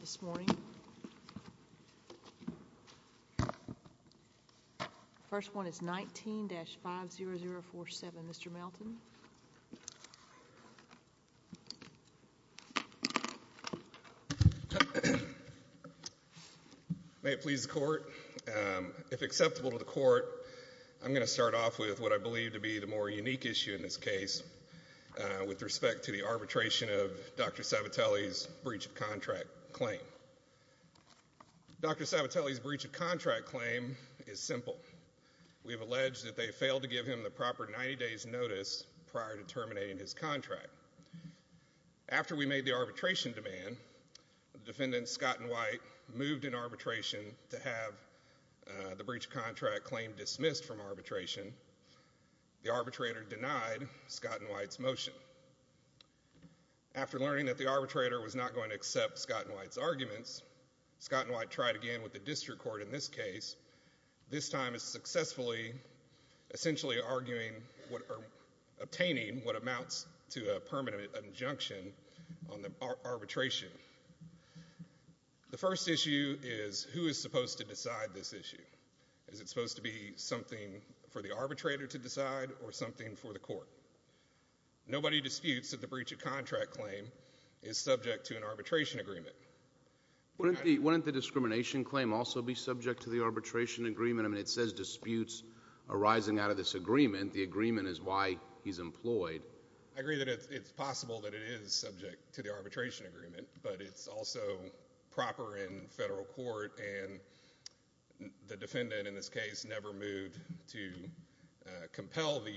The first one is 19-50047, Mr. Melton. May it please the court, if acceptable to the court, I'm going to start off with what I believe to be the more unique issue in this case with respect to the arbitration of Dr. Sabatelli's breach of contract claim. Dr. Sabatelli's breach of contract claim is simple. We have alleged that they failed to give him the proper 90 days notice prior to terminating his contract. After we made the arbitration demand, defendant Scott & White moved in arbitration to have the breach of contract claim dismissed from arbitration. The arbitrator denied Scott & White's motion. After learning that the arbitrator was not going to accept Scott & White's arguments, Scott & White tried again with the district court in this case. This time it's successfully essentially obtaining what amounts to a permanent injunction on the arbitration. The first issue is who is supposed to decide this issue? Is it supposed to be something for the arbitrator to decide or something for the court? Nobody disputes that the breach of contract claim is subject to an arbitration agreement. Wouldn't the discrimination claim also be subject to the arbitration agreement? I mean, it says disputes arising out of this agreement. The agreement is why he's employed. I agree that it's possible that it is subject to the arbitration agreement, but it's also proper in federal court and the defendant in this case never moved to compel the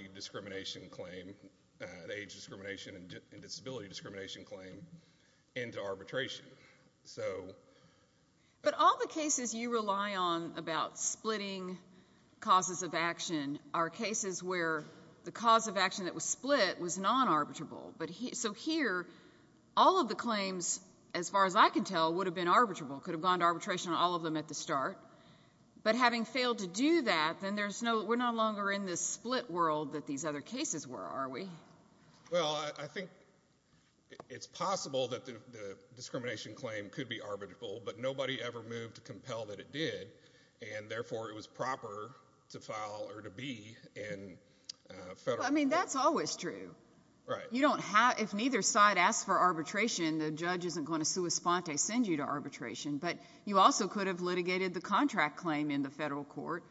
age discrimination and disability discrimination claim into arbitration. But all the cases you rely on about splitting causes of action are cases where the cause of action that was split was non-arbitrable. So here, all of the claims, as far as I can tell, would have been arbitrable, could have gone to arbitration on all of them at the start. But having failed to do that, then we're no longer in this split world that these other cases were, are we? Well, I think it's possible that the discrimination claim could be arbitrable, but nobody ever moved to compel that it did, and therefore it was proper to file or to be in federal court. I mean, that's always true. Right. You don't have – if neither side asks for arbitration, the judge isn't going to sua sponte, send you to arbitration. But you also could have litigated the contract claim in the federal court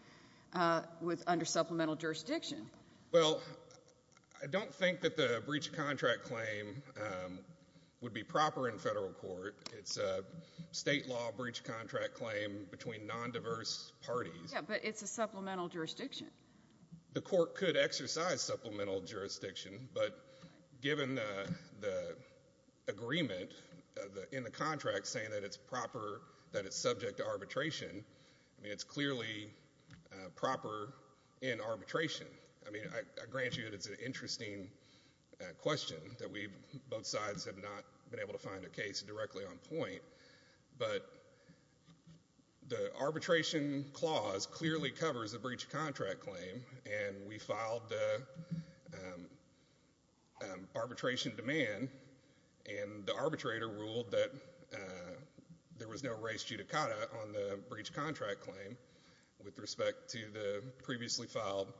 under supplemental jurisdiction. Well, I don't think that the breach of contract claim would be proper in federal court. It's a state law breach of contract claim between nondiverse parties. Yeah, but it's a supplemental jurisdiction. The court could exercise supplemental jurisdiction, but given the agreement in the contract saying that it's proper, that it's subject to arbitration, I mean, it's clearly proper in arbitration. I mean, I grant you that it's an interesting question that we've – both sides have not been able to find a case directly on point. But the arbitration clause clearly covers a breach of contract claim, and we filed the arbitration demand, and the arbitrator ruled that there was no res judicata on the breach of contract claim with respect to the previously filed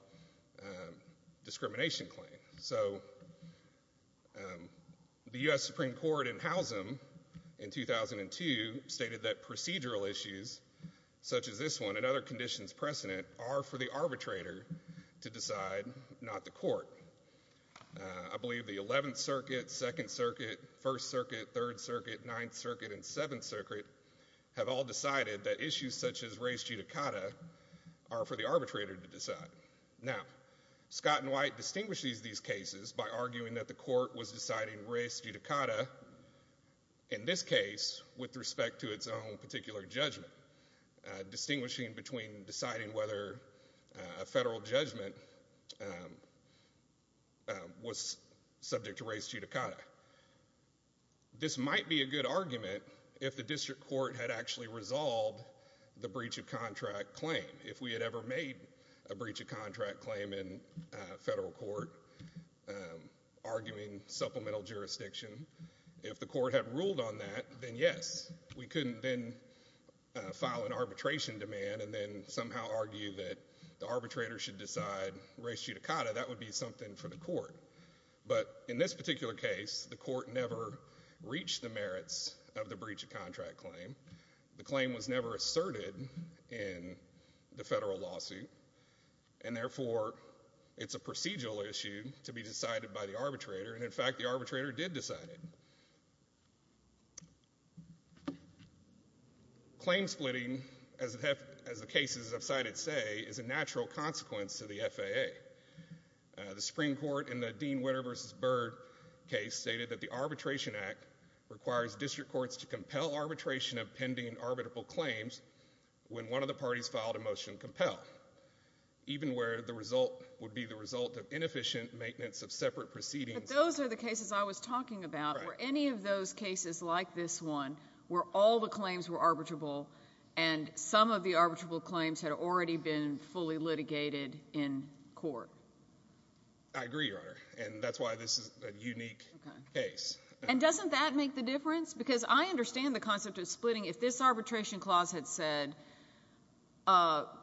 discrimination claim. So the U.S. Supreme Court in Howsam in 2002 stated that procedural issues such as this one and other conditions precedent are for the arbitrator to decide, not the court. I believe the 11th Circuit, 2nd Circuit, 1st Circuit, 3rd Circuit, 9th Circuit, and 7th Circuit have all decided that issues such as res judicata are for the arbitrator to decide. Now, Scott and White distinguish these cases by arguing that the court was deciding res judicata in this case with respect to its own particular judgment, distinguishing between deciding whether a federal judgment was subject to res judicata. This might be a good argument if the district court had actually resolved the breach of contract claim, if we had ever made a breach of contract claim in federal court, arguing supplemental jurisdiction. If the court had ruled on that, then yes, we couldn't then file an arbitration demand and then somehow argue that the arbitrator should decide res judicata. That would be something for the court. But in this particular case, the court never reached the merits of the breach of contract claim. The claim was never asserted in the federal lawsuit. And therefore, it's a procedural issue to be decided by the arbitrator. And in fact, the arbitrator did decide it. Claim splitting, as the cases I've cited say, is a natural consequence to the FAA. The Supreme Court in the Dean Witter v. Byrd case stated that the Arbitration Act requires district courts to compel arbitration of pending arbitrable claims when one of the parties filed a motion to compel, even where the result would be the result of inefficient maintenance of separate proceedings. But those are the cases I was talking about. Were any of those cases like this one where all the claims were arbitrable and some of the arbitrable claims had already been fully litigated in court? I agree, Your Honor. And that's why this is a unique case. And doesn't that make the difference? Because I understand the concept of splitting. If this arbitration clause had said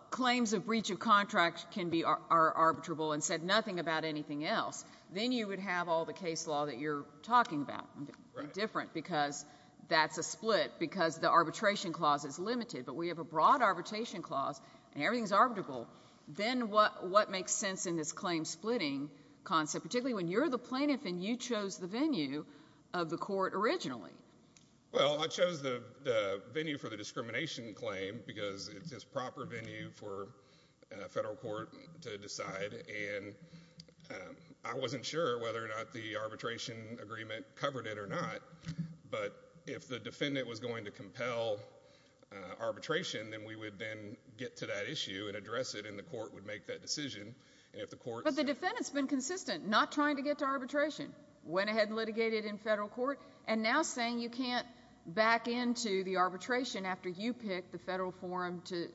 claims of breach of contract can be arbitrable and said nothing about anything else, then you would have all the case law that you're talking about. Right. Different, because that's a split, because the arbitration clause is limited. But we have a broad arbitration clause, and everything's arbitrable. Then what makes sense in this claim splitting concept, particularly when you're the plaintiff and you chose the venue of the court originally? Well, I chose the venue for the discrimination claim because it's a proper venue for a federal court to decide. And I wasn't sure whether or not the arbitration agreement covered it or not. But if the defendant was going to compel arbitration, then we would then get to that issue and address it, and the court would make that decision. But the defendant's been consistent, not trying to get to arbitration, went ahead and litigated in federal court, and now saying you can't back into the arbitration after you pick the federal forum to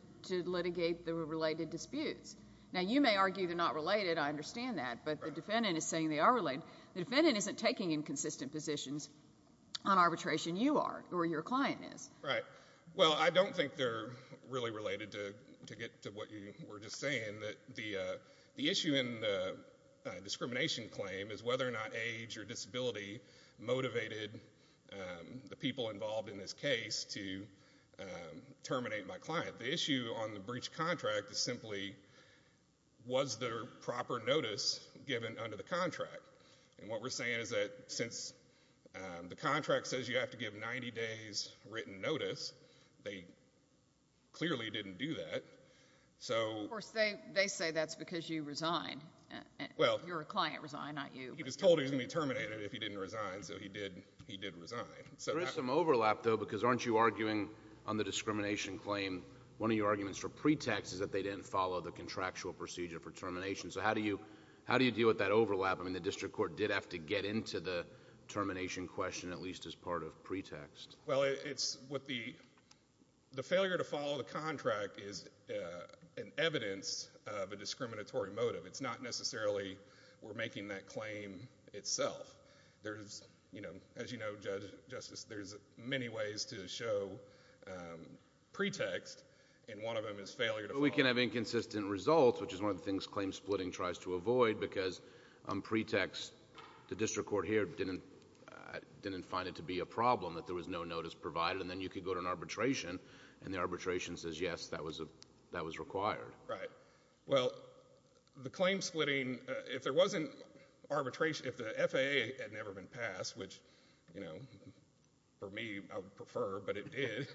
litigate the related disputes. Now, you may argue they're not related. I understand that. But the defendant is saying they are related. The defendant isn't taking inconsistent positions on arbitration. You are, or your client is. Right. Well, I don't think they're really related, to get to what you were just saying. The issue in the discrimination claim is whether or not age or disability motivated the people involved in this case to terminate my client. The issue on the breach contract is simply, was there proper notice given under the contract? And what we're saying is that since the contract says you have to give 90 days written notice, they clearly didn't do that. Of course, they say that's because you resigned. You're a client resigned, not you. He was told he was going to be terminated if he didn't resign, so he did resign. There is some overlap, though, because aren't you arguing on the discrimination claim, one of your arguments for pretext is that they didn't follow the contractual procedure for termination. So how do you deal with that overlap? I mean the district court did have to get into the termination question, at least as part of pretext. Well, it's what the – the failure to follow the contract is an evidence of a discriminatory motive. It's not necessarily we're making that claim itself. As you know, Judge Justice, there's many ways to show pretext, and one of them is failure to follow. But we can have inconsistent results, which is one of the things claim splitting tries to avoid because on pretext the district court here didn't find it to be a problem that there was no notice provided, and then you could go to an arbitration, and the arbitration says yes, that was required. Right. Well, the claim splitting, if there wasn't arbitration, if the FAA had never been passed, which for me I would prefer, but it did,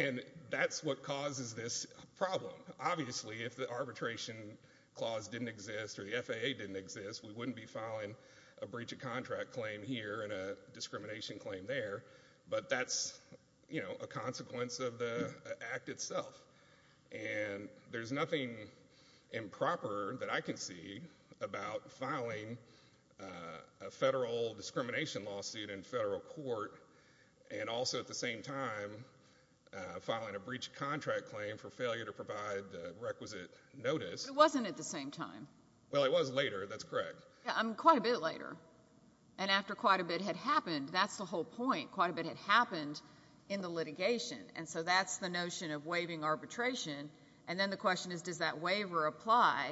and that's what causes this problem. Obviously, if the arbitration clause didn't exist or the FAA didn't exist, we wouldn't be filing a breach of contract claim here and a discrimination claim there, but that's a consequence of the act itself. And there's nothing improper that I can see about filing a federal discrimination lawsuit in federal court and also at the same time filing a breach of contract claim for failure to provide requisite notice. It wasn't at the same time. Well, it was later. That's correct. Quite a bit later. And after quite a bit had happened, that's the whole point. Quite a bit had happened in the litigation, and so that's the notion of waiving arbitration. And then the question is, does that waiver apply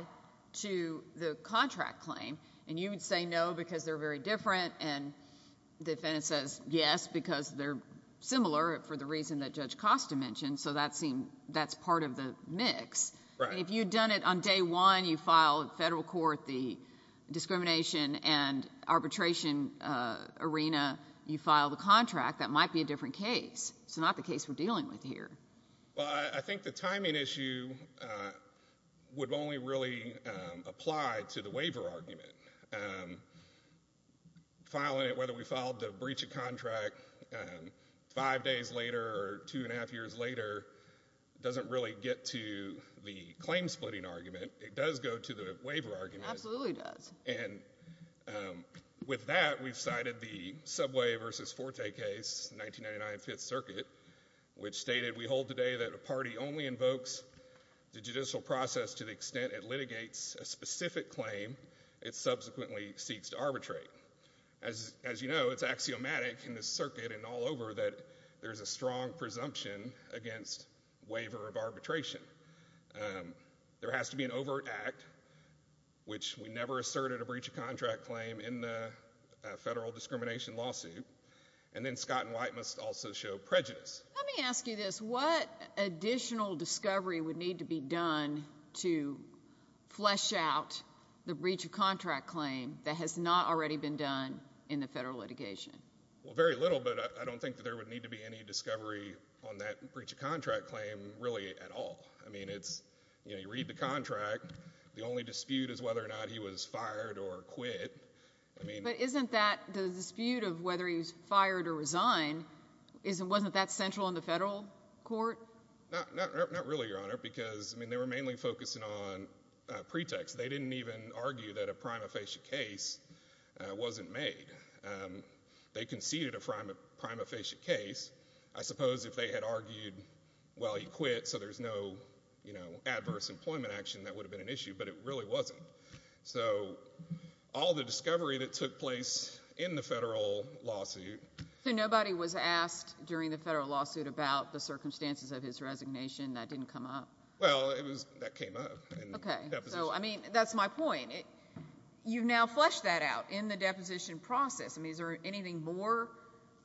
to the contract claim? And you would say no because they're very different, and the defendant says yes because they're similar for the reason that Judge Costa mentioned, so that's part of the mix. Right. If you had done it on day one, you filed federal court the discrimination and arbitration arena, you filed a contract, that might be a different case. It's not the case we're dealing with here. Well, I think the timing issue would only really apply to the waiver argument. Filing it, whether we filed the breach of contract five days later or two and a half years later, doesn't really get to the claim splitting argument. It does go to the waiver argument. Absolutely does. And with that, we've cited the Subway v. Forte case, 1999 Fifth Circuit, which stated, We hold today that a party only invokes the judicial process to the extent it litigates a specific claim it subsequently seeks to arbitrate. As you know, it's axiomatic in this circuit and all over that there is a strong presumption against waiver of arbitration. There has to be an overt act, which we never asserted a breach of contract claim in the federal discrimination lawsuit. And then Scott and White must also show prejudice. Let me ask you this. What additional discovery would need to be done to flesh out the breach of contract claim that has not already been done in the federal litigation? Well, very little, but I don't think that there would need to be any discovery on that breach of contract claim really at all. I mean, it's, you know, you read the contract. The only dispute is whether or not he was fired or quit. But isn't that the dispute of whether he was fired or resigned, wasn't that central in the federal court? Not really, Your Honor, because, I mean, they were mainly focusing on pretext. They didn't even argue that a prima facie case wasn't made. They conceded a prima facie case. I suppose if they had argued, well, he quit, so there's no, you know, adverse employment action, that would have been an issue. But it really wasn't. So all the discovery that took place in the federal lawsuit. So nobody was asked during the federal lawsuit about the circumstances of his resignation? That didn't come up? Well, that came up. Okay. So, I mean, that's my point. You've now fleshed that out in the deposition process. I mean, is there anything more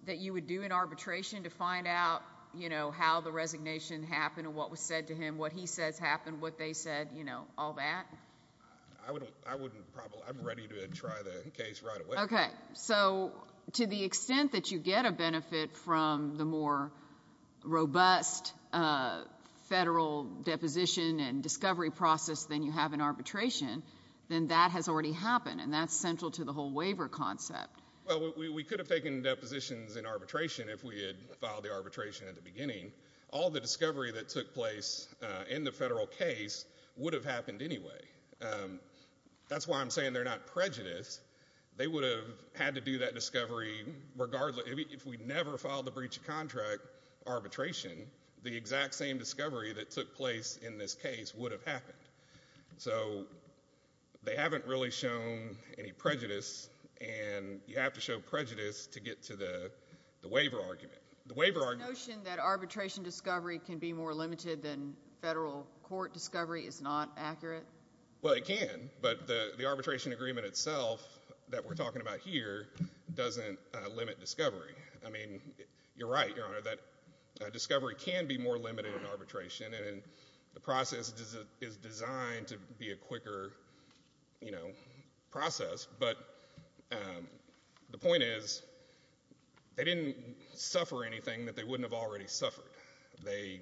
that you would do in arbitration to find out, you know, how the resignation happened and what was said to him, what he says happened, what they said, you know, all that? I wouldn't probably. I'm ready to try the case right away. Okay. So to the extent that you get a benefit from the more robust federal deposition and discovery process than you have in arbitration, then that has already happened, and that's central to the whole waiver concept. Well, we could have taken depositions in arbitration if we had filed the arbitration at the beginning. All the discovery that took place in the federal case would have happened anyway. That's why I'm saying they're not prejudice. They would have had to do that discovery regardless. If we never filed the breach of contract arbitration, the exact same discovery that took place in this case would have happened. So they haven't really shown any prejudice, and you have to show prejudice to get to the waiver argument. The waiver argument. The notion that arbitration discovery can be more limited than federal court discovery is not accurate? Well, it can, but the arbitration agreement itself that we're talking about here doesn't limit discovery. I mean, you're right, Your Honor, that discovery can be more limited in arbitration, and the process is designed to be a quicker process, but the point is they didn't suffer anything that they wouldn't have already suffered. They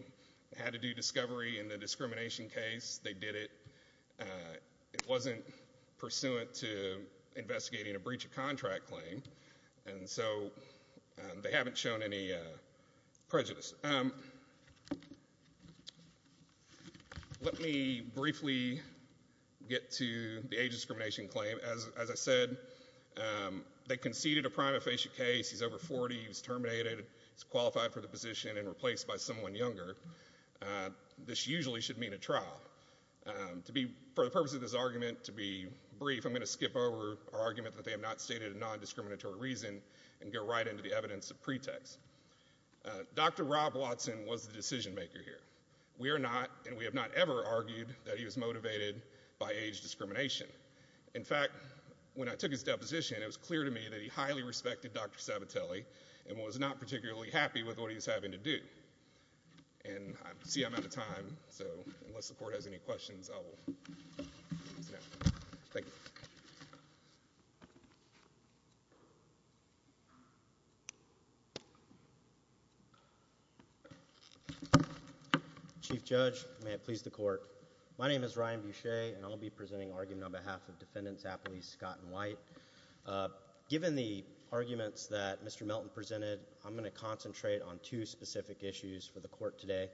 had to do discovery in the discrimination case. They did it. It wasn't pursuant to investigating a breach of contract claim, and so they haven't shown any prejudice. Let me briefly get to the age discrimination claim. As I said, they conceded a prima facie case. He's over 40. He was terminated. He's qualified for the position and replaced by someone younger. This usually should mean a trial. For the purpose of this argument to be brief, I'm going to skip over our argument that they have not stated a non-discriminatory reason and go right into the evidence of pretext. Dr. Rob Watson was the decision maker here. We are not and we have not ever argued that he was motivated by age discrimination. In fact, when I took his deposition, it was clear to me that he highly respected Dr. Sabatelli and was not particularly happy with what he was having to do. I see I'm out of time, so unless the Court has any questions, I will close now. Thank you. Chief Judge, may it please the Court. My name is Ryan Boucher, and I will be presenting an argument on behalf of Defendants Apley, Scott, and White. Given the arguments that Mr. Melton presented, I'm going to concentrate on two specific issues for the Court today.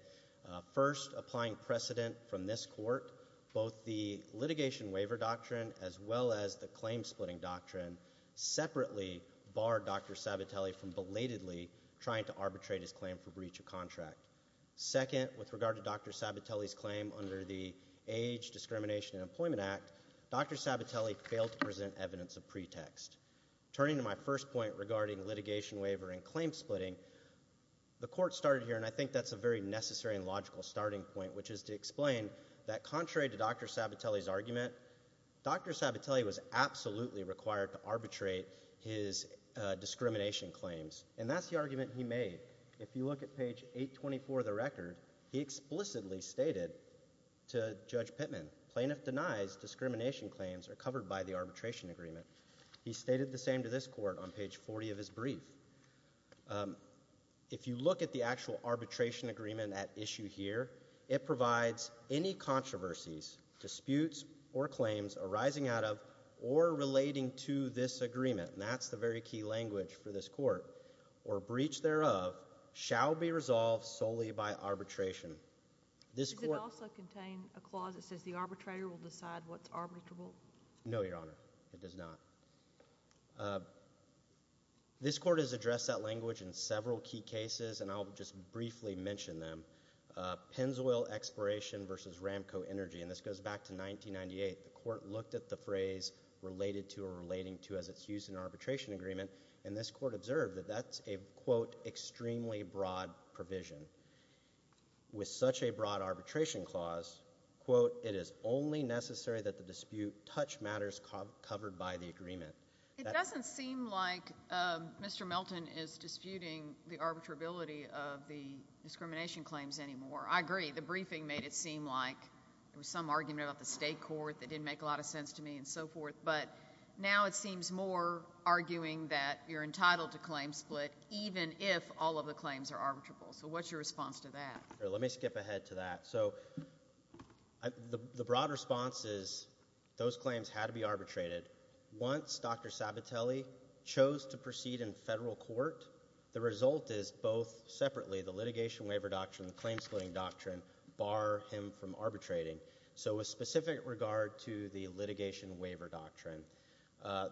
First, applying precedent from this Court, both the litigation waiver doctrine as well as the claim splitting doctrine separately bar Dr. Sabatelli from belatedly trying to arbitrate his claim for breach of contract. Second, with regard to Dr. Sabatelli's claim under the Age, Discrimination, and Employment Act, Dr. Sabatelli failed to present evidence of pretext. Turning to my first point regarding litigation waiver and claim splitting, the Court started here, and I think that's a very necessary and logical starting point, which is to explain that contrary to Dr. Sabatelli's argument, Dr. Sabatelli was absolutely required to arbitrate his discrimination claims, and that's the argument he made. If you look at page 824 of the record, he explicitly stated to Judge Pittman, plaintiff denies discrimination claims are covered by the arbitration agreement. He stated the same to this Court on page 40 of his brief. If you look at the actual arbitration agreement at issue here, it provides any controversies, disputes, or claims arising out of or relating to this agreement, and that's the very key language for this Court, or breach thereof, shall be resolved solely by arbitration. Does it also contain a clause that says the arbitrator will decide what's arbitrable? No, Your Honor, it does not. This Court has addressed that language in several key cases, and I'll just briefly mention them. Pennzoil exploration versus Ramco Energy, and this goes back to 1998. The Court looked at the phrase related to or relating to as it's used in arbitration agreement, and this Court observed that that's a, quote, extremely broad provision. With such a broad arbitration clause, quote, it is only necessary that the dispute touch matters covered by the agreement. It doesn't seem like Mr. Melton is disputing the arbitrability of the discrimination claims anymore. I agree. The briefing made it seem like there was some argument about the state court that didn't make a lot of sense to me and so forth, but now it seems more arguing that you're entitled to claim split even if all of the claims are arbitrable. So what's your response to that? Let me skip ahead to that. So the broad response is those claims had to be arbitrated. Once Dr. Sabatelli chose to proceed in federal court, the result is both separately, the litigation waiver doctrine and the claim splitting doctrine bar him from arbitrating. So with specific regard to the litigation waiver doctrine,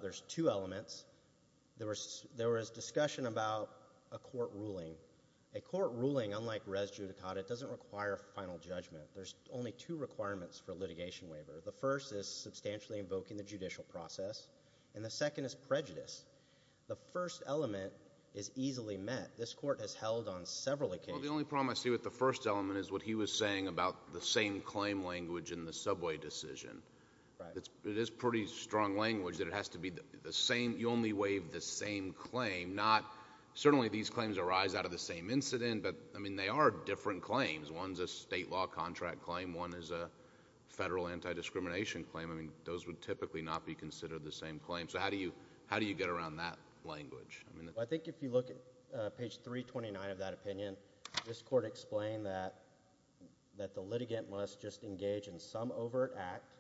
there's two elements. There was discussion about a court ruling. A court ruling, unlike res judicata, doesn't require final judgment. There's only two requirements for litigation waiver. The first is substantially invoking the judicial process, and the second is prejudice. The first element is easily met. This Court has held on several occasions. Well, the only problem I see with the first element is what he was saying about the same claim language in the subway decision. It is pretty strong language that it has to be the same. You only waive the same claim, not certainly these claims arise out of the same incident, but, I mean, they are different claims. One's a state law contract claim. One is a federal anti-discrimination claim. I mean, those would typically not be considered the same claim. So how do you get around that language? Well, I think if you look at page 329 of that opinion, this Court explained that the litigant must just engage in some overt act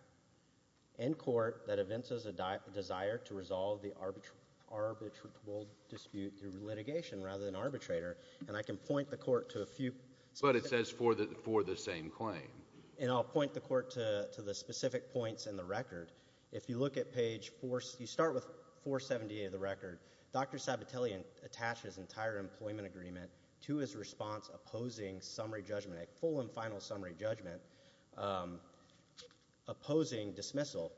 in court that evinces a desire to resolve the arbitral dispute through litigation rather than arbitrator. And I can point the Court to a few— But it says for the same claim. And I'll point the Court to the specific points in the record. If you look at page—you start with 478 of the record. Dr. Sabatelli attached his entire employment agreement to his response opposing summary judgment, a full and final summary judgment opposing dismissal.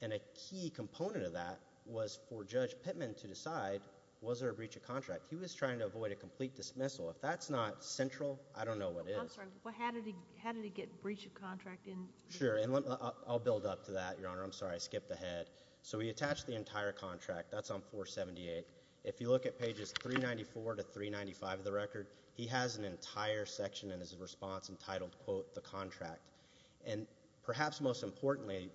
And a key component of that was for Judge Pittman to decide was there a breach of contract. He was trying to avoid a complete dismissal. If that's not central, I don't know what is. I'm sorry. How did he get breach of contract in? Sure. And I'll build up to that, Your Honor. I'm sorry. I skipped ahead. So he attached the entire contract. That's on 478. If you look at pages 394 to 395 of the record, he has an entire section in his response entitled, quote, the contract. And perhaps most importantly,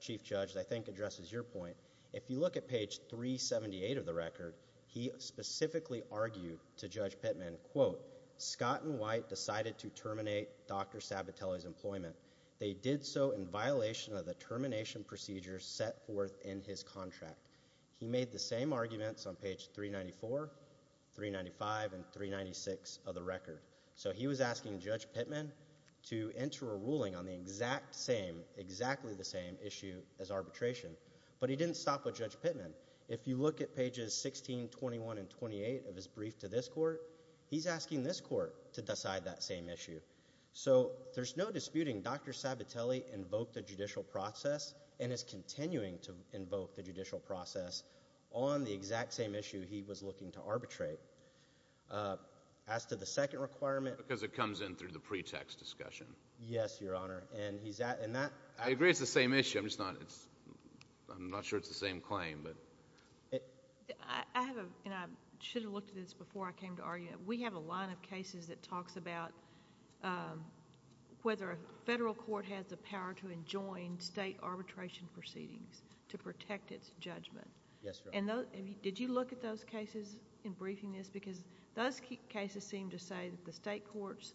Chief Judge, I think addresses your point, if you look at page 378 of the record, he specifically argued to Judge Pittman, quote, Scott and White decided to terminate Dr. Sabatelli's employment. They did so in violation of the termination procedure set forth in his contract. He made the same arguments on page 394, 395, and 396 of the record. So he was asking Judge Pittman to enter a ruling on the exact same, exactly the same issue as arbitration. But he didn't stop with Judge Pittman. If you look at pages 16, 21, and 28 of his brief to this court, he's asking this court to decide that same issue. So there's no disputing Dr. Sabatelli invoked a judicial process and is continuing to invoke the judicial process on the exact same issue he was looking to arbitrate. As to the second requirement – Because it comes in through the pretext discussion. Yes, Your Honor. And he's – and that – I agree it's the same issue. I'm just not – I'm not sure it's the same claim. I have a – and I should have looked at this before I came to argue it. We have a line of cases that talks about whether a federal court has the power to enjoin state arbitration proceedings to protect its judgment. Yes, Your Honor. And did you look at those cases in briefing this? Because those cases seem to say that the state courts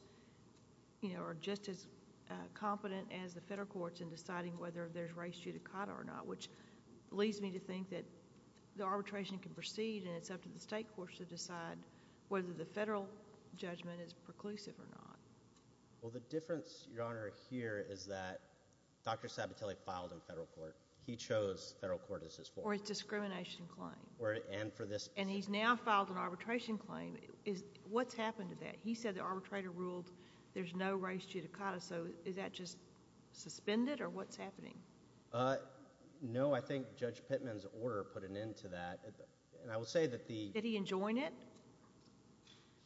are just as competent as the federal courts in deciding whether there's race judicata or not, which leads me to think that the arbitration can proceed and it's up to the state courts to decide whether the federal judgment is preclusive or not. Well, the difference, Your Honor, here is that Dr. Sabatelli filed in federal court. He chose federal court as his forum. Or it's a discrimination claim. And for this – And he's now filed an arbitration claim. What's happened to that? He said the arbitrator ruled there's no race judicata, so is that just suspended or what's happening? No, I think Judge Pittman's order put an end to that. And I will say that the – Did he enjoin it?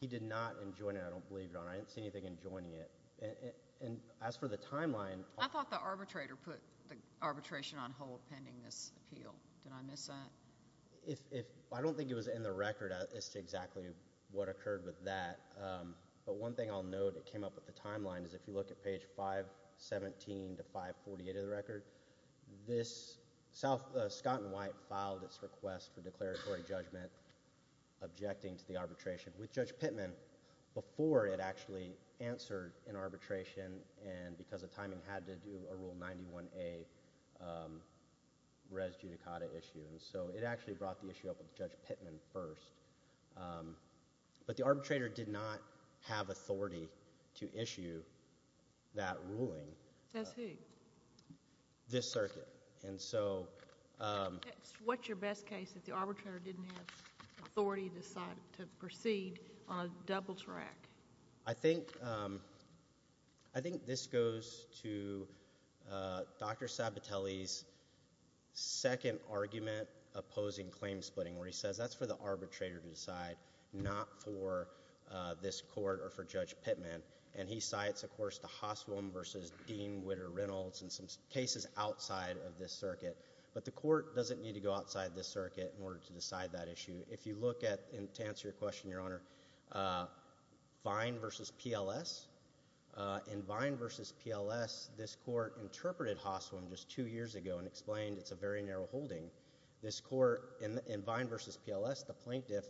He did not enjoin it, I don't believe, Your Honor. I didn't see anything enjoining it. And as for the timeline – I thought the arbitrator put the arbitration on hold pending this appeal. Did I miss that? I don't think it was in the record as to exactly what occurred with that. But one thing I'll note that came up with the timeline is if you look at page 517 to 548 of the record, this – Scott and White filed this request for declaratory judgment objecting to the arbitration with Judge Pittman before it actually answered an arbitration and because the timing had to do a Rule 91A res judicata issue. And so it actually brought the issue up with Judge Pittman first. But the arbitrator did not have authority to issue that ruling. Says who? This circuit. And so – What's your best case that the arbitrator didn't have authority to proceed on a double track? I think this goes to Dr. Sabatelli's second argument opposing claim splitting where he says that's for the arbitrator to decide, not for this court or for Judge Pittman. And he cites, of course, the Hoswem v. Dean Witter Reynolds and some cases outside of this circuit. But the court doesn't need to go outside this circuit in order to decide that issue. If you look at – to answer your question, Your Honor – Vine v. PLS. In Vine v. PLS, this court interpreted Hoswem just two years ago and explained it's a very narrow holding. This court in Vine v. PLS, the plaintiff,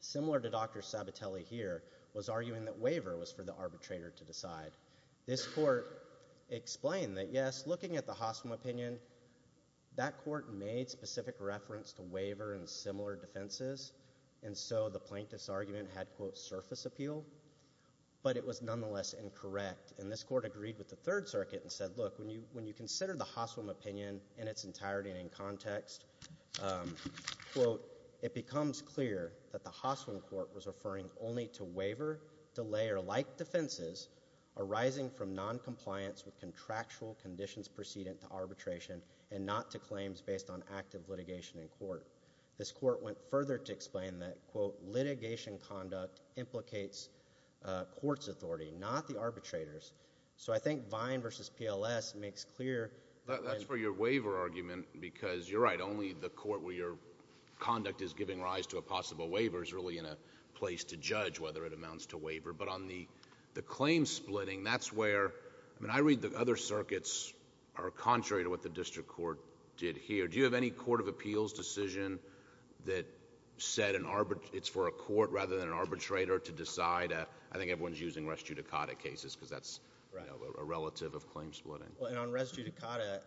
similar to Dr. Sabatelli here, was arguing that waiver was for the arbitrator to decide. This court explained that, yes, looking at the Hoswem opinion, that court made specific reference to waiver and similar defenses. And so the plaintiff's argument had, quote, surface appeal. But it was nonetheless incorrect. And this court agreed with the Third Circuit and said, look, when you consider the Hoswem opinion in its entirety and in context, quote, it becomes clear that the Hoswem court was referring only to waiver-delayer-like defenses arising from noncompliance with contractual conditions precedent to arbitration and not to claims based on active litigation in court. This court went further to explain that, quote, litigation conduct implicates court's authority, not the arbitrator's. So I think Vine v. PLS makes clear – That's for your waiver argument because you're right. Only the court where your conduct is giving rise to a possible waiver is really in a place to judge whether it amounts to waiver. But on the claim splitting, that's where – I mean, I read the other circuits are contrary to what the district court did here. Do you have any court of appeals decision that said it's for a court rather than an arbitrator to decide? I think everyone's using res judicata cases because that's a relative of claim splitting. And on res judicata,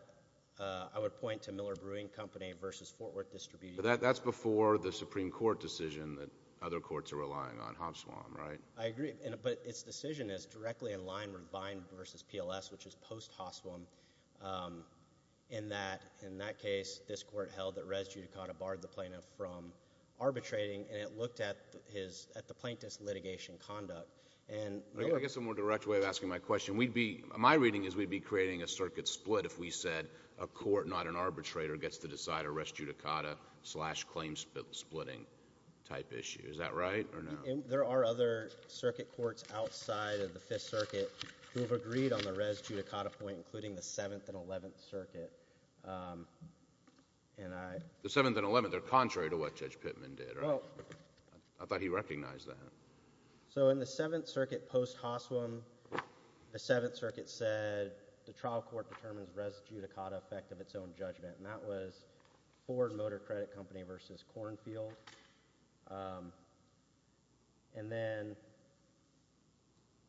I would point to Miller Brewing Company v. Fort Worth Distributing – But that's before the Supreme Court decision that other courts are relying on, Hoswem, right? I agree, but its decision is directly in line with Vine v. PLS, which is post-Hoswem, in that, in that case, this court held that res judicata barred the plaintiff from arbitrating, and it looked at the plaintiff's litigation conduct. I guess a more direct way of asking my question, we'd be – my reading is we'd be creating a circuit split if we said a court, not an arbitrator, gets to decide a res judicata slash claim splitting type issue. Is that right or no? There are other circuit courts outside of the Fifth Circuit who have agreed on the res judicata point, including the Seventh and Eleventh Circuit, and I – The Seventh and Eleventh, they're contrary to what Judge Pittman did, right? Well – I thought he recognized that. So in the Seventh Circuit post-Hoswem, the Seventh Circuit said the trial court determines res judicata effect of its own judgment, and that was Ford Motor Credit Company v. Cornfield. And then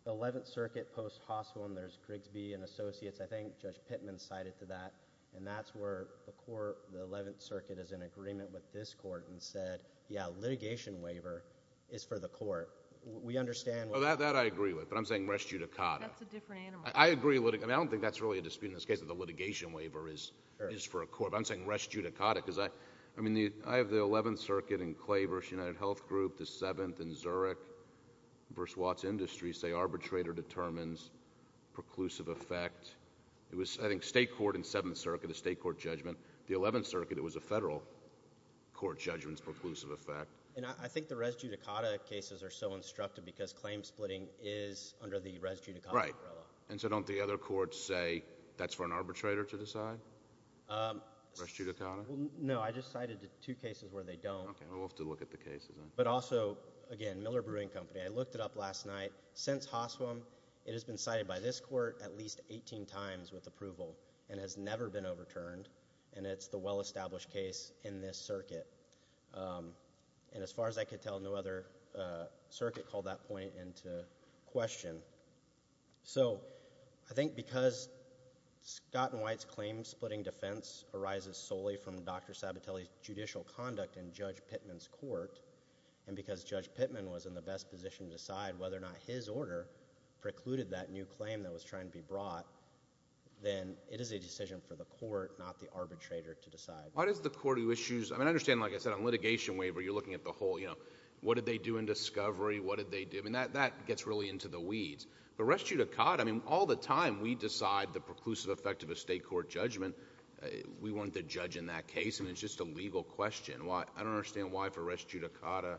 the Eleventh Circuit post-Hoswem, there's Grigsby and Associates, I think Judge Pittman cited to that, and that's where the court – the Eleventh Circuit is in agreement with this court and said, yeah, litigation waiver is for the court. We understand – Well, that I agree with, but I'm saying res judicata. That's a different animal. I agree – and I don't think that's really a dispute in this case that the litigation waiver is for a court, but I'm saying res judicata because I – I mean, I have the Eleventh Circuit in Clay v. United Health Group, the Seventh in Zurich v. Watts Industries say arbitrator determines preclusive effect. It was, I think, State Court in Seventh Circuit, a State Court judgment. The Eleventh Circuit, it was a federal court judgment's preclusive effect. And I think the res judicata cases are so instructive because claim splitting is under the res judicata umbrella. And so don't the other courts say that's for an arbitrator to decide, res judicata? No, I just cited two cases where they don't. Okay, we'll have to look at the cases. But also, again, Miller Brewing Company, I looked it up last night. Since HOSWM, it has been cited by this court at least 18 times with approval and has never been overturned, and it's the well-established case in this circuit. And as far as I could tell, no other circuit called that point into question. So I think because Scott and White's claim splitting defense arises solely from Dr. Sabatelli's judicial conduct in Judge Pittman's court, and because Judge Pittman was in the best position to decide whether or not his order precluded that new claim that was trying to be brought, then it is a decision for the court, not the arbitrator, to decide. Why does the court do issues? I mean, I understand, like I said, on litigation waiver, you're looking at the whole, you know, what did they do in discovery, what did they do? I mean, that gets really into the weeds. But res judicata, I mean, all the time we decide the preclusive effect of a state court judgment, we weren't the judge in that case. I mean, it's just a legal question. I don't understand why for res judicata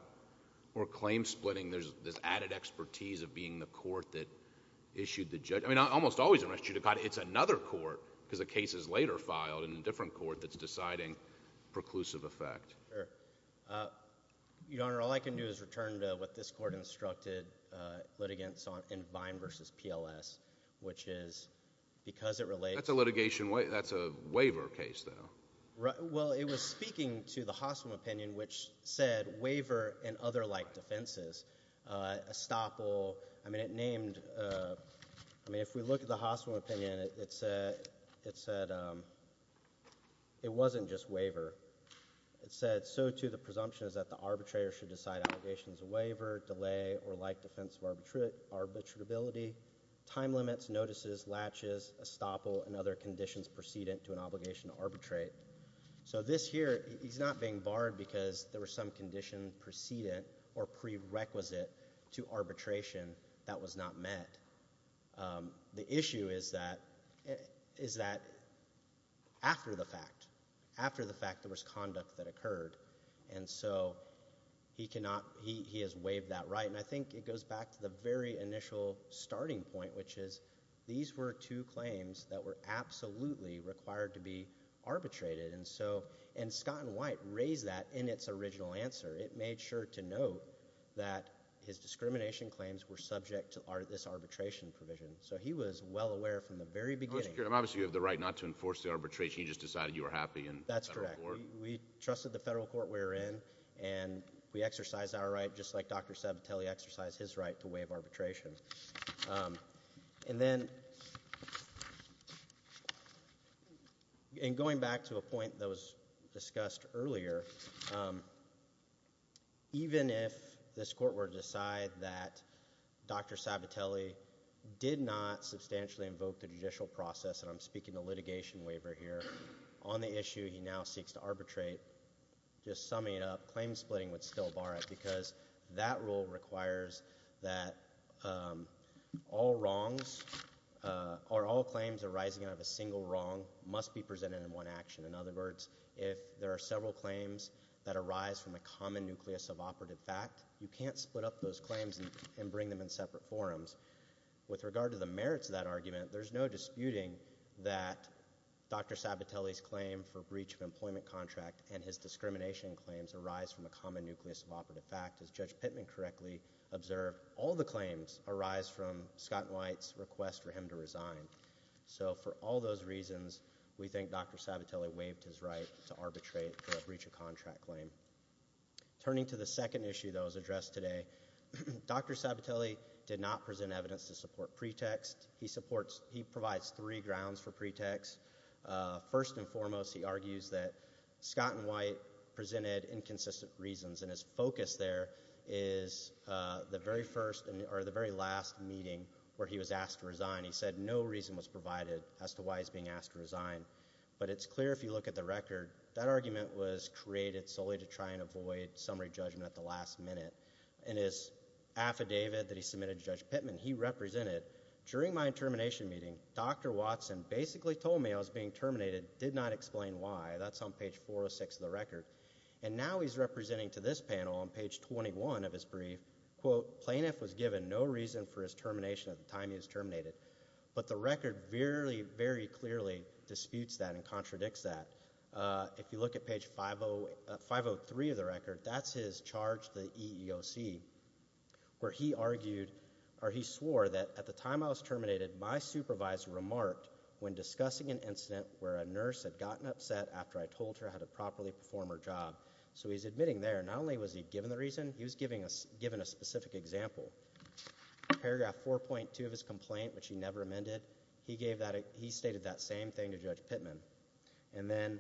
or claim splitting there's this added expertise of being the court that issued the judgment. I mean, almost always in res judicata, it's another court because the case is later filed in a different court that's deciding preclusive effect. Sure. Your Honor, all I can do is return to what this court instructed litigants on in Vine versus PLS, which is because it relates. That's a litigation, that's a waiver case, though. Well, it was speaking to the hospital opinion, which said waiver and other like defenses, estoppel. I mean, it named, I mean, if we look at the hospital opinion, it said it wasn't just waiver. It said so, too, the presumption is that the arbitrator should decide allegations of waiver, delay, or like defense of arbitrability, time limits, notices, latches, estoppel, and other conditions precedent to an obligation to arbitrate. So this here, he's not being barred because there was some condition precedent or prerequisite to arbitration that was not met. The issue is that after the fact, after the fact, there was conduct that occurred, and so he has waived that right. And I think it goes back to the very initial starting point, which is these were two claims that were absolutely required to be arbitrated. And Scott and White raised that in its original answer. It made sure to note that his discrimination claims were subject to this arbitration provision. So he was well aware from the very beginning. Obviously, you have the right not to enforce the arbitration. You just decided you were happy in federal court. That's correct. We trusted the federal court we were in, and we exercised our right, just like Dr. Sabatelli exercised his right to waive arbitration. And then in going back to a point that was discussed earlier, even if this court were to decide that Dr. Sabatelli did not substantially invoke the judicial process, and I'm speaking to litigation waiver here, on the issue he now seeks to arbitrate, just summing it up, because that rule requires that all claims arising out of a single wrong must be presented in one action. In other words, if there are several claims that arise from a common nucleus of operative fact, you can't split up those claims and bring them in separate forums. With regard to the merits of that argument, there's no disputing that Dr. Sabatelli's claim for breach of employment contract and his discrimination claims arise from a common nucleus of operative fact. As Judge Pittman correctly observed, all the claims arise from Scott White's request for him to resign. So for all those reasons, we think Dr. Sabatelli waived his right to arbitrate for a breach of contract claim. Turning to the second issue that was addressed today, Dr. Sabatelli did not present evidence to support pretext. He provides three grounds for pretext. First and foremost, he argues that Scott and White presented inconsistent reasons, and his focus there is the very first or the very last meeting where he was asked to resign. He said no reason was provided as to why he's being asked to resign. But it's clear if you look at the record, that argument was created solely to try and avoid summary judgment at the last minute. In his affidavit that he submitted to Judge Pittman, he represented, during my termination meeting, Dr. Watson basically told me I was being terminated, did not explain why. That's on page 406 of the record. And now he's representing to this panel on page 21 of his brief, quote, plaintiff was given no reason for his termination at the time he was terminated. But the record very, very clearly disputes that and contradicts that. If you look at page 503 of the record, that's his charge to the EEOC, where he argued or he swore that at the time I was terminated, my supervisor remarked when discussing an incident where a nurse had gotten upset after I told her how to properly perform her job. So he's admitting there not only was he given the reason, he was given a specific example. Paragraph 4.2 of his complaint, which he never amended, he stated that same thing to Judge Pittman. And then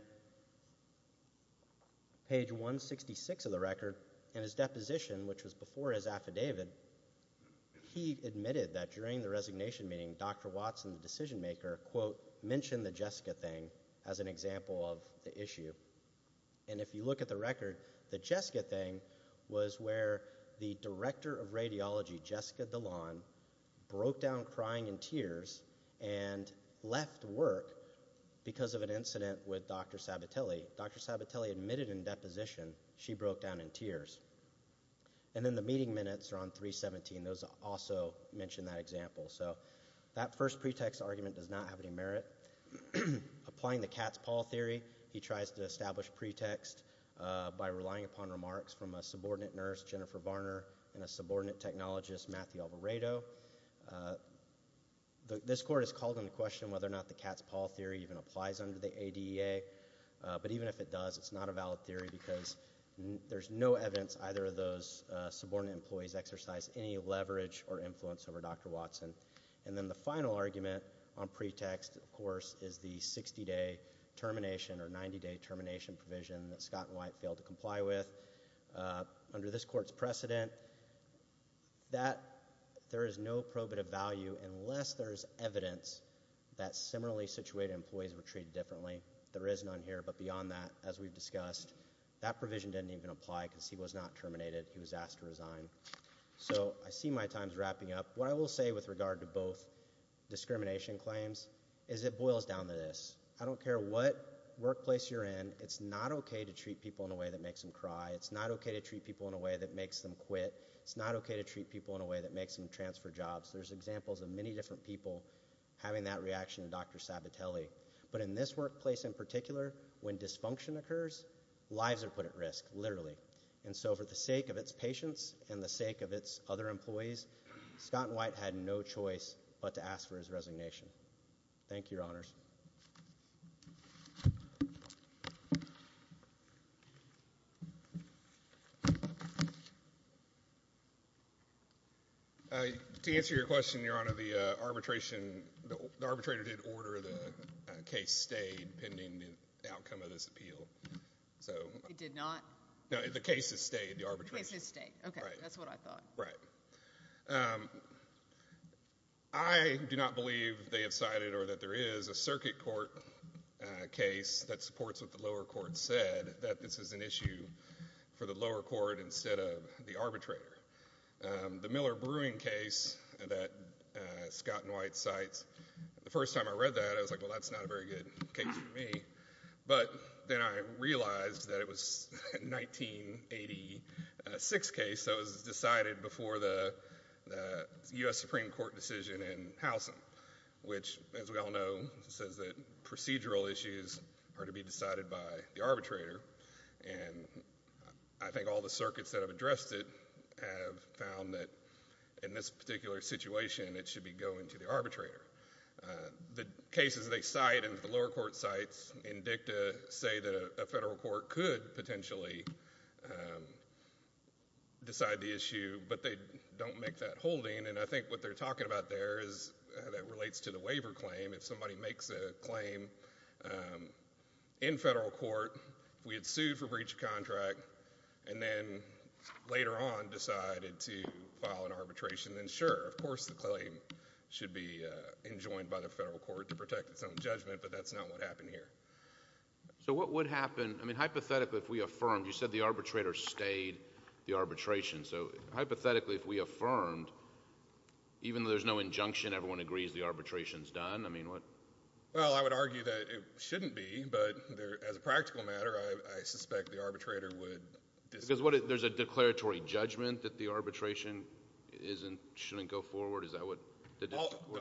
page 166 of the record, in his deposition, which was before his affidavit, he admitted that during the resignation meeting, Dr. Watson, the decision maker, quote, mentioned the Jessica thing as an example of the issue. And if you look at the record, the Jessica thing was where the director of radiology, Jessica Dilan, broke down crying in tears and left work because of an incident with Dr. Sabatelli. Dr. Sabatelli admitted in deposition she broke down in tears. And then the meeting minutes are on 317. Those also mention that example. So that first pretext argument does not have any merit. Applying the cat's paw theory, he tries to establish pretext by relying upon remarks from a subordinate nurse, Jennifer Varner, and a subordinate technologist, Matthew Alvarado. This court has called into question whether or not the cat's paw theory even applies under the ADEA. But even if it does, it's not a valid theory because there's no evidence either of those subordinate employees exercise any leverage or influence over Dr. Watson. And then the final argument on pretext, of course, is the 60-day termination or 90-day termination provision that Scott and White failed to comply with. Under this court's precedent, there is no probative value unless there is evidence that similarly situated employees were treated differently. There is none here, but beyond that, as we've discussed, that provision didn't even apply because he was not terminated. He was asked to resign. So I see my time's wrapping up. What I will say with regard to both discrimination claims is it boils down to this. I don't care what workplace you're in. It's not okay to treat people in a way that makes them cry. It's not okay to treat people in a way that makes them quit. It's not okay to treat people in a way that makes them transfer jobs. There's examples of many different people having that reaction to Dr. Sabatelli. But in this workplace in particular, when dysfunction occurs, lives are put at risk, literally. And so for the sake of its patients and the sake of its other employees, Scott and White had no choice but to ask for his resignation. Thank you, Your Honors. Thank you, Your Honors. To answer your question, Your Honor, the arbitrator did order the case stay pending the outcome of this appeal. It did not? No, the case has stayed, the arbitration. The case has stayed. Okay, that's what I thought. Right. I do not believe they have cited or that there is a circuit court case that supports what the lower court said, that this is an issue for the lower court instead of the arbitrator. The Miller Brewing case that Scott and White cites, the first time I read that, I was like, well, that's not a very good case for me. But then I realized that it was a 1986 case that was decided before the U.S. Supreme Court decision in Howson, which, as we all know, says that procedural issues are to be decided by the arbitrator. And I think all the circuits that have addressed it have found that in this particular situation, it should be going to the arbitrator. The cases they cite and the lower court cites in dicta say that a federal court could potentially decide the issue, but they don't make that holding. And I think what they're talking about there is that relates to the waiver claim. If somebody makes a claim in federal court, if we had sued for breach of contract and then later on decided to file an arbitration, then sure, of course the claim should be enjoined by the federal court to protect its own judgment, but that's not what happened here. So what would happen? I mean, hypothetically, if we affirmed, you said the arbitrator stayed the arbitration. So hypothetically, if we affirmed, even though there's no injunction, everyone agrees the arbitration's done, I mean, what? Well, I would argue that it shouldn't be, but as a practical matter, I suspect the arbitrator would disagree. Because there's a declaratory judgment that the arbitration shouldn't go forward? The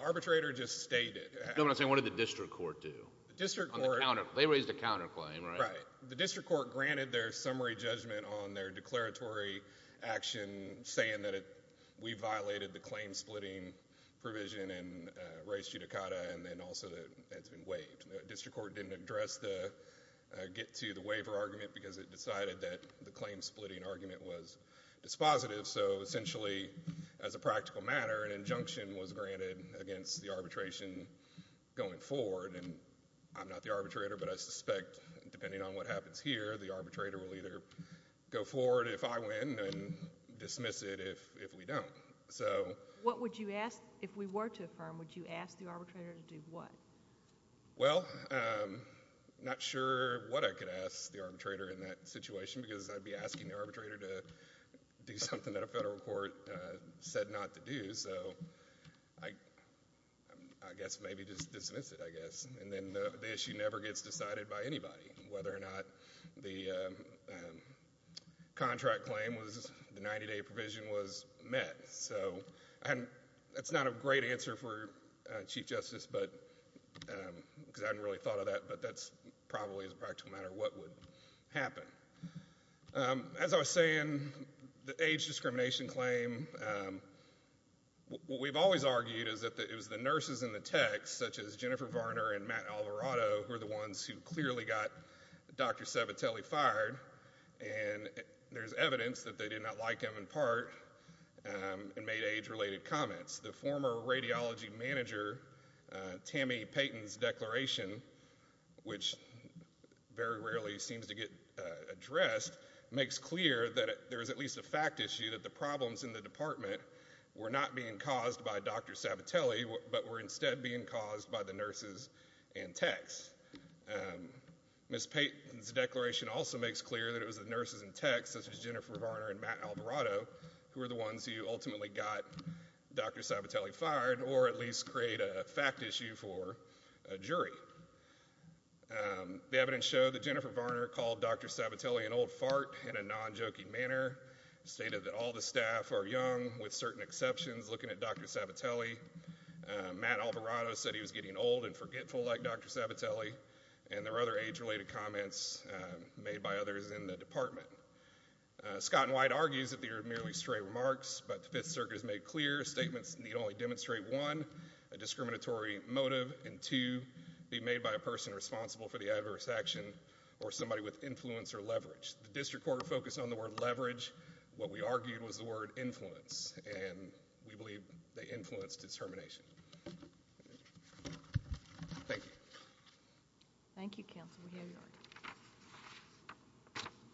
arbitrator just stayed it. No, I'm saying what did the district court do? They raised a counterclaim, right? Right. The district court granted their summary judgment on their declaratory action saying that we violated the claim-splitting provision in race judicata, and then also that it's been waived. The district court didn't address the get-to-the-waiver argument because it decided that the claim-splitting argument was dispositive. So essentially, as a practical matter, an injunction was granted against the arbitration going forward, and I'm not the arbitrator, but I suspect depending on what happens here, the arbitrator will either go forward if I win and dismiss it if we don't. If we were to affirm, would you ask the arbitrator to do what? Well, I'm not sure what I could ask the arbitrator in that situation because I'd be asking the arbitrator to do something that a federal court said not to do. So I guess maybe just dismiss it, I guess. And then the issue never gets decided by anybody whether or not the contract claim was the 90-day provision was met. So that's not a great answer for Chief Justice because I hadn't really thought of that, but that's probably as a practical matter what would happen. As I was saying, the age discrimination claim, what we've always argued is that it was the nurses in the techs, such as Jennifer Varner and Matt Alvarado, who are the ones who clearly got Dr. Sabatelli fired, and there's evidence that they did not like him in part and made age-related comments. The former radiology manager, Tammy Payton's declaration, which very rarely seems to get addressed, makes clear that there's at least a fact issue that the problems in the department were not being caused by Dr. Sabatelli but were instead being caused by the nurses and techs. Ms. Payton's declaration also makes clear that it was the nurses and techs, such as Jennifer Varner and Matt Alvarado, who were the ones who ultimately got Dr. Sabatelli fired or at least create a fact issue for a jury. The evidence showed that Jennifer Varner called Dr. Sabatelli an old fart in a non-jokey manner, stated that all the staff are young, with certain exceptions, looking at Dr. Sabatelli. Matt Alvarado said he was getting old and forgetful like Dr. Sabatelli, and there were other age-related comments made by others in the department. Scott and White argues that they were merely stray remarks, but the Fifth Circuit has made clear statements need only demonstrate, one, a discriminatory motive, and two, be made by a person responsible for the adverse action or somebody with influence or leverage. The district court focused on the word leverage. What we argued was the word influence, and we believe they influenced determination. Thank you. Thank you, counsel. We hear you.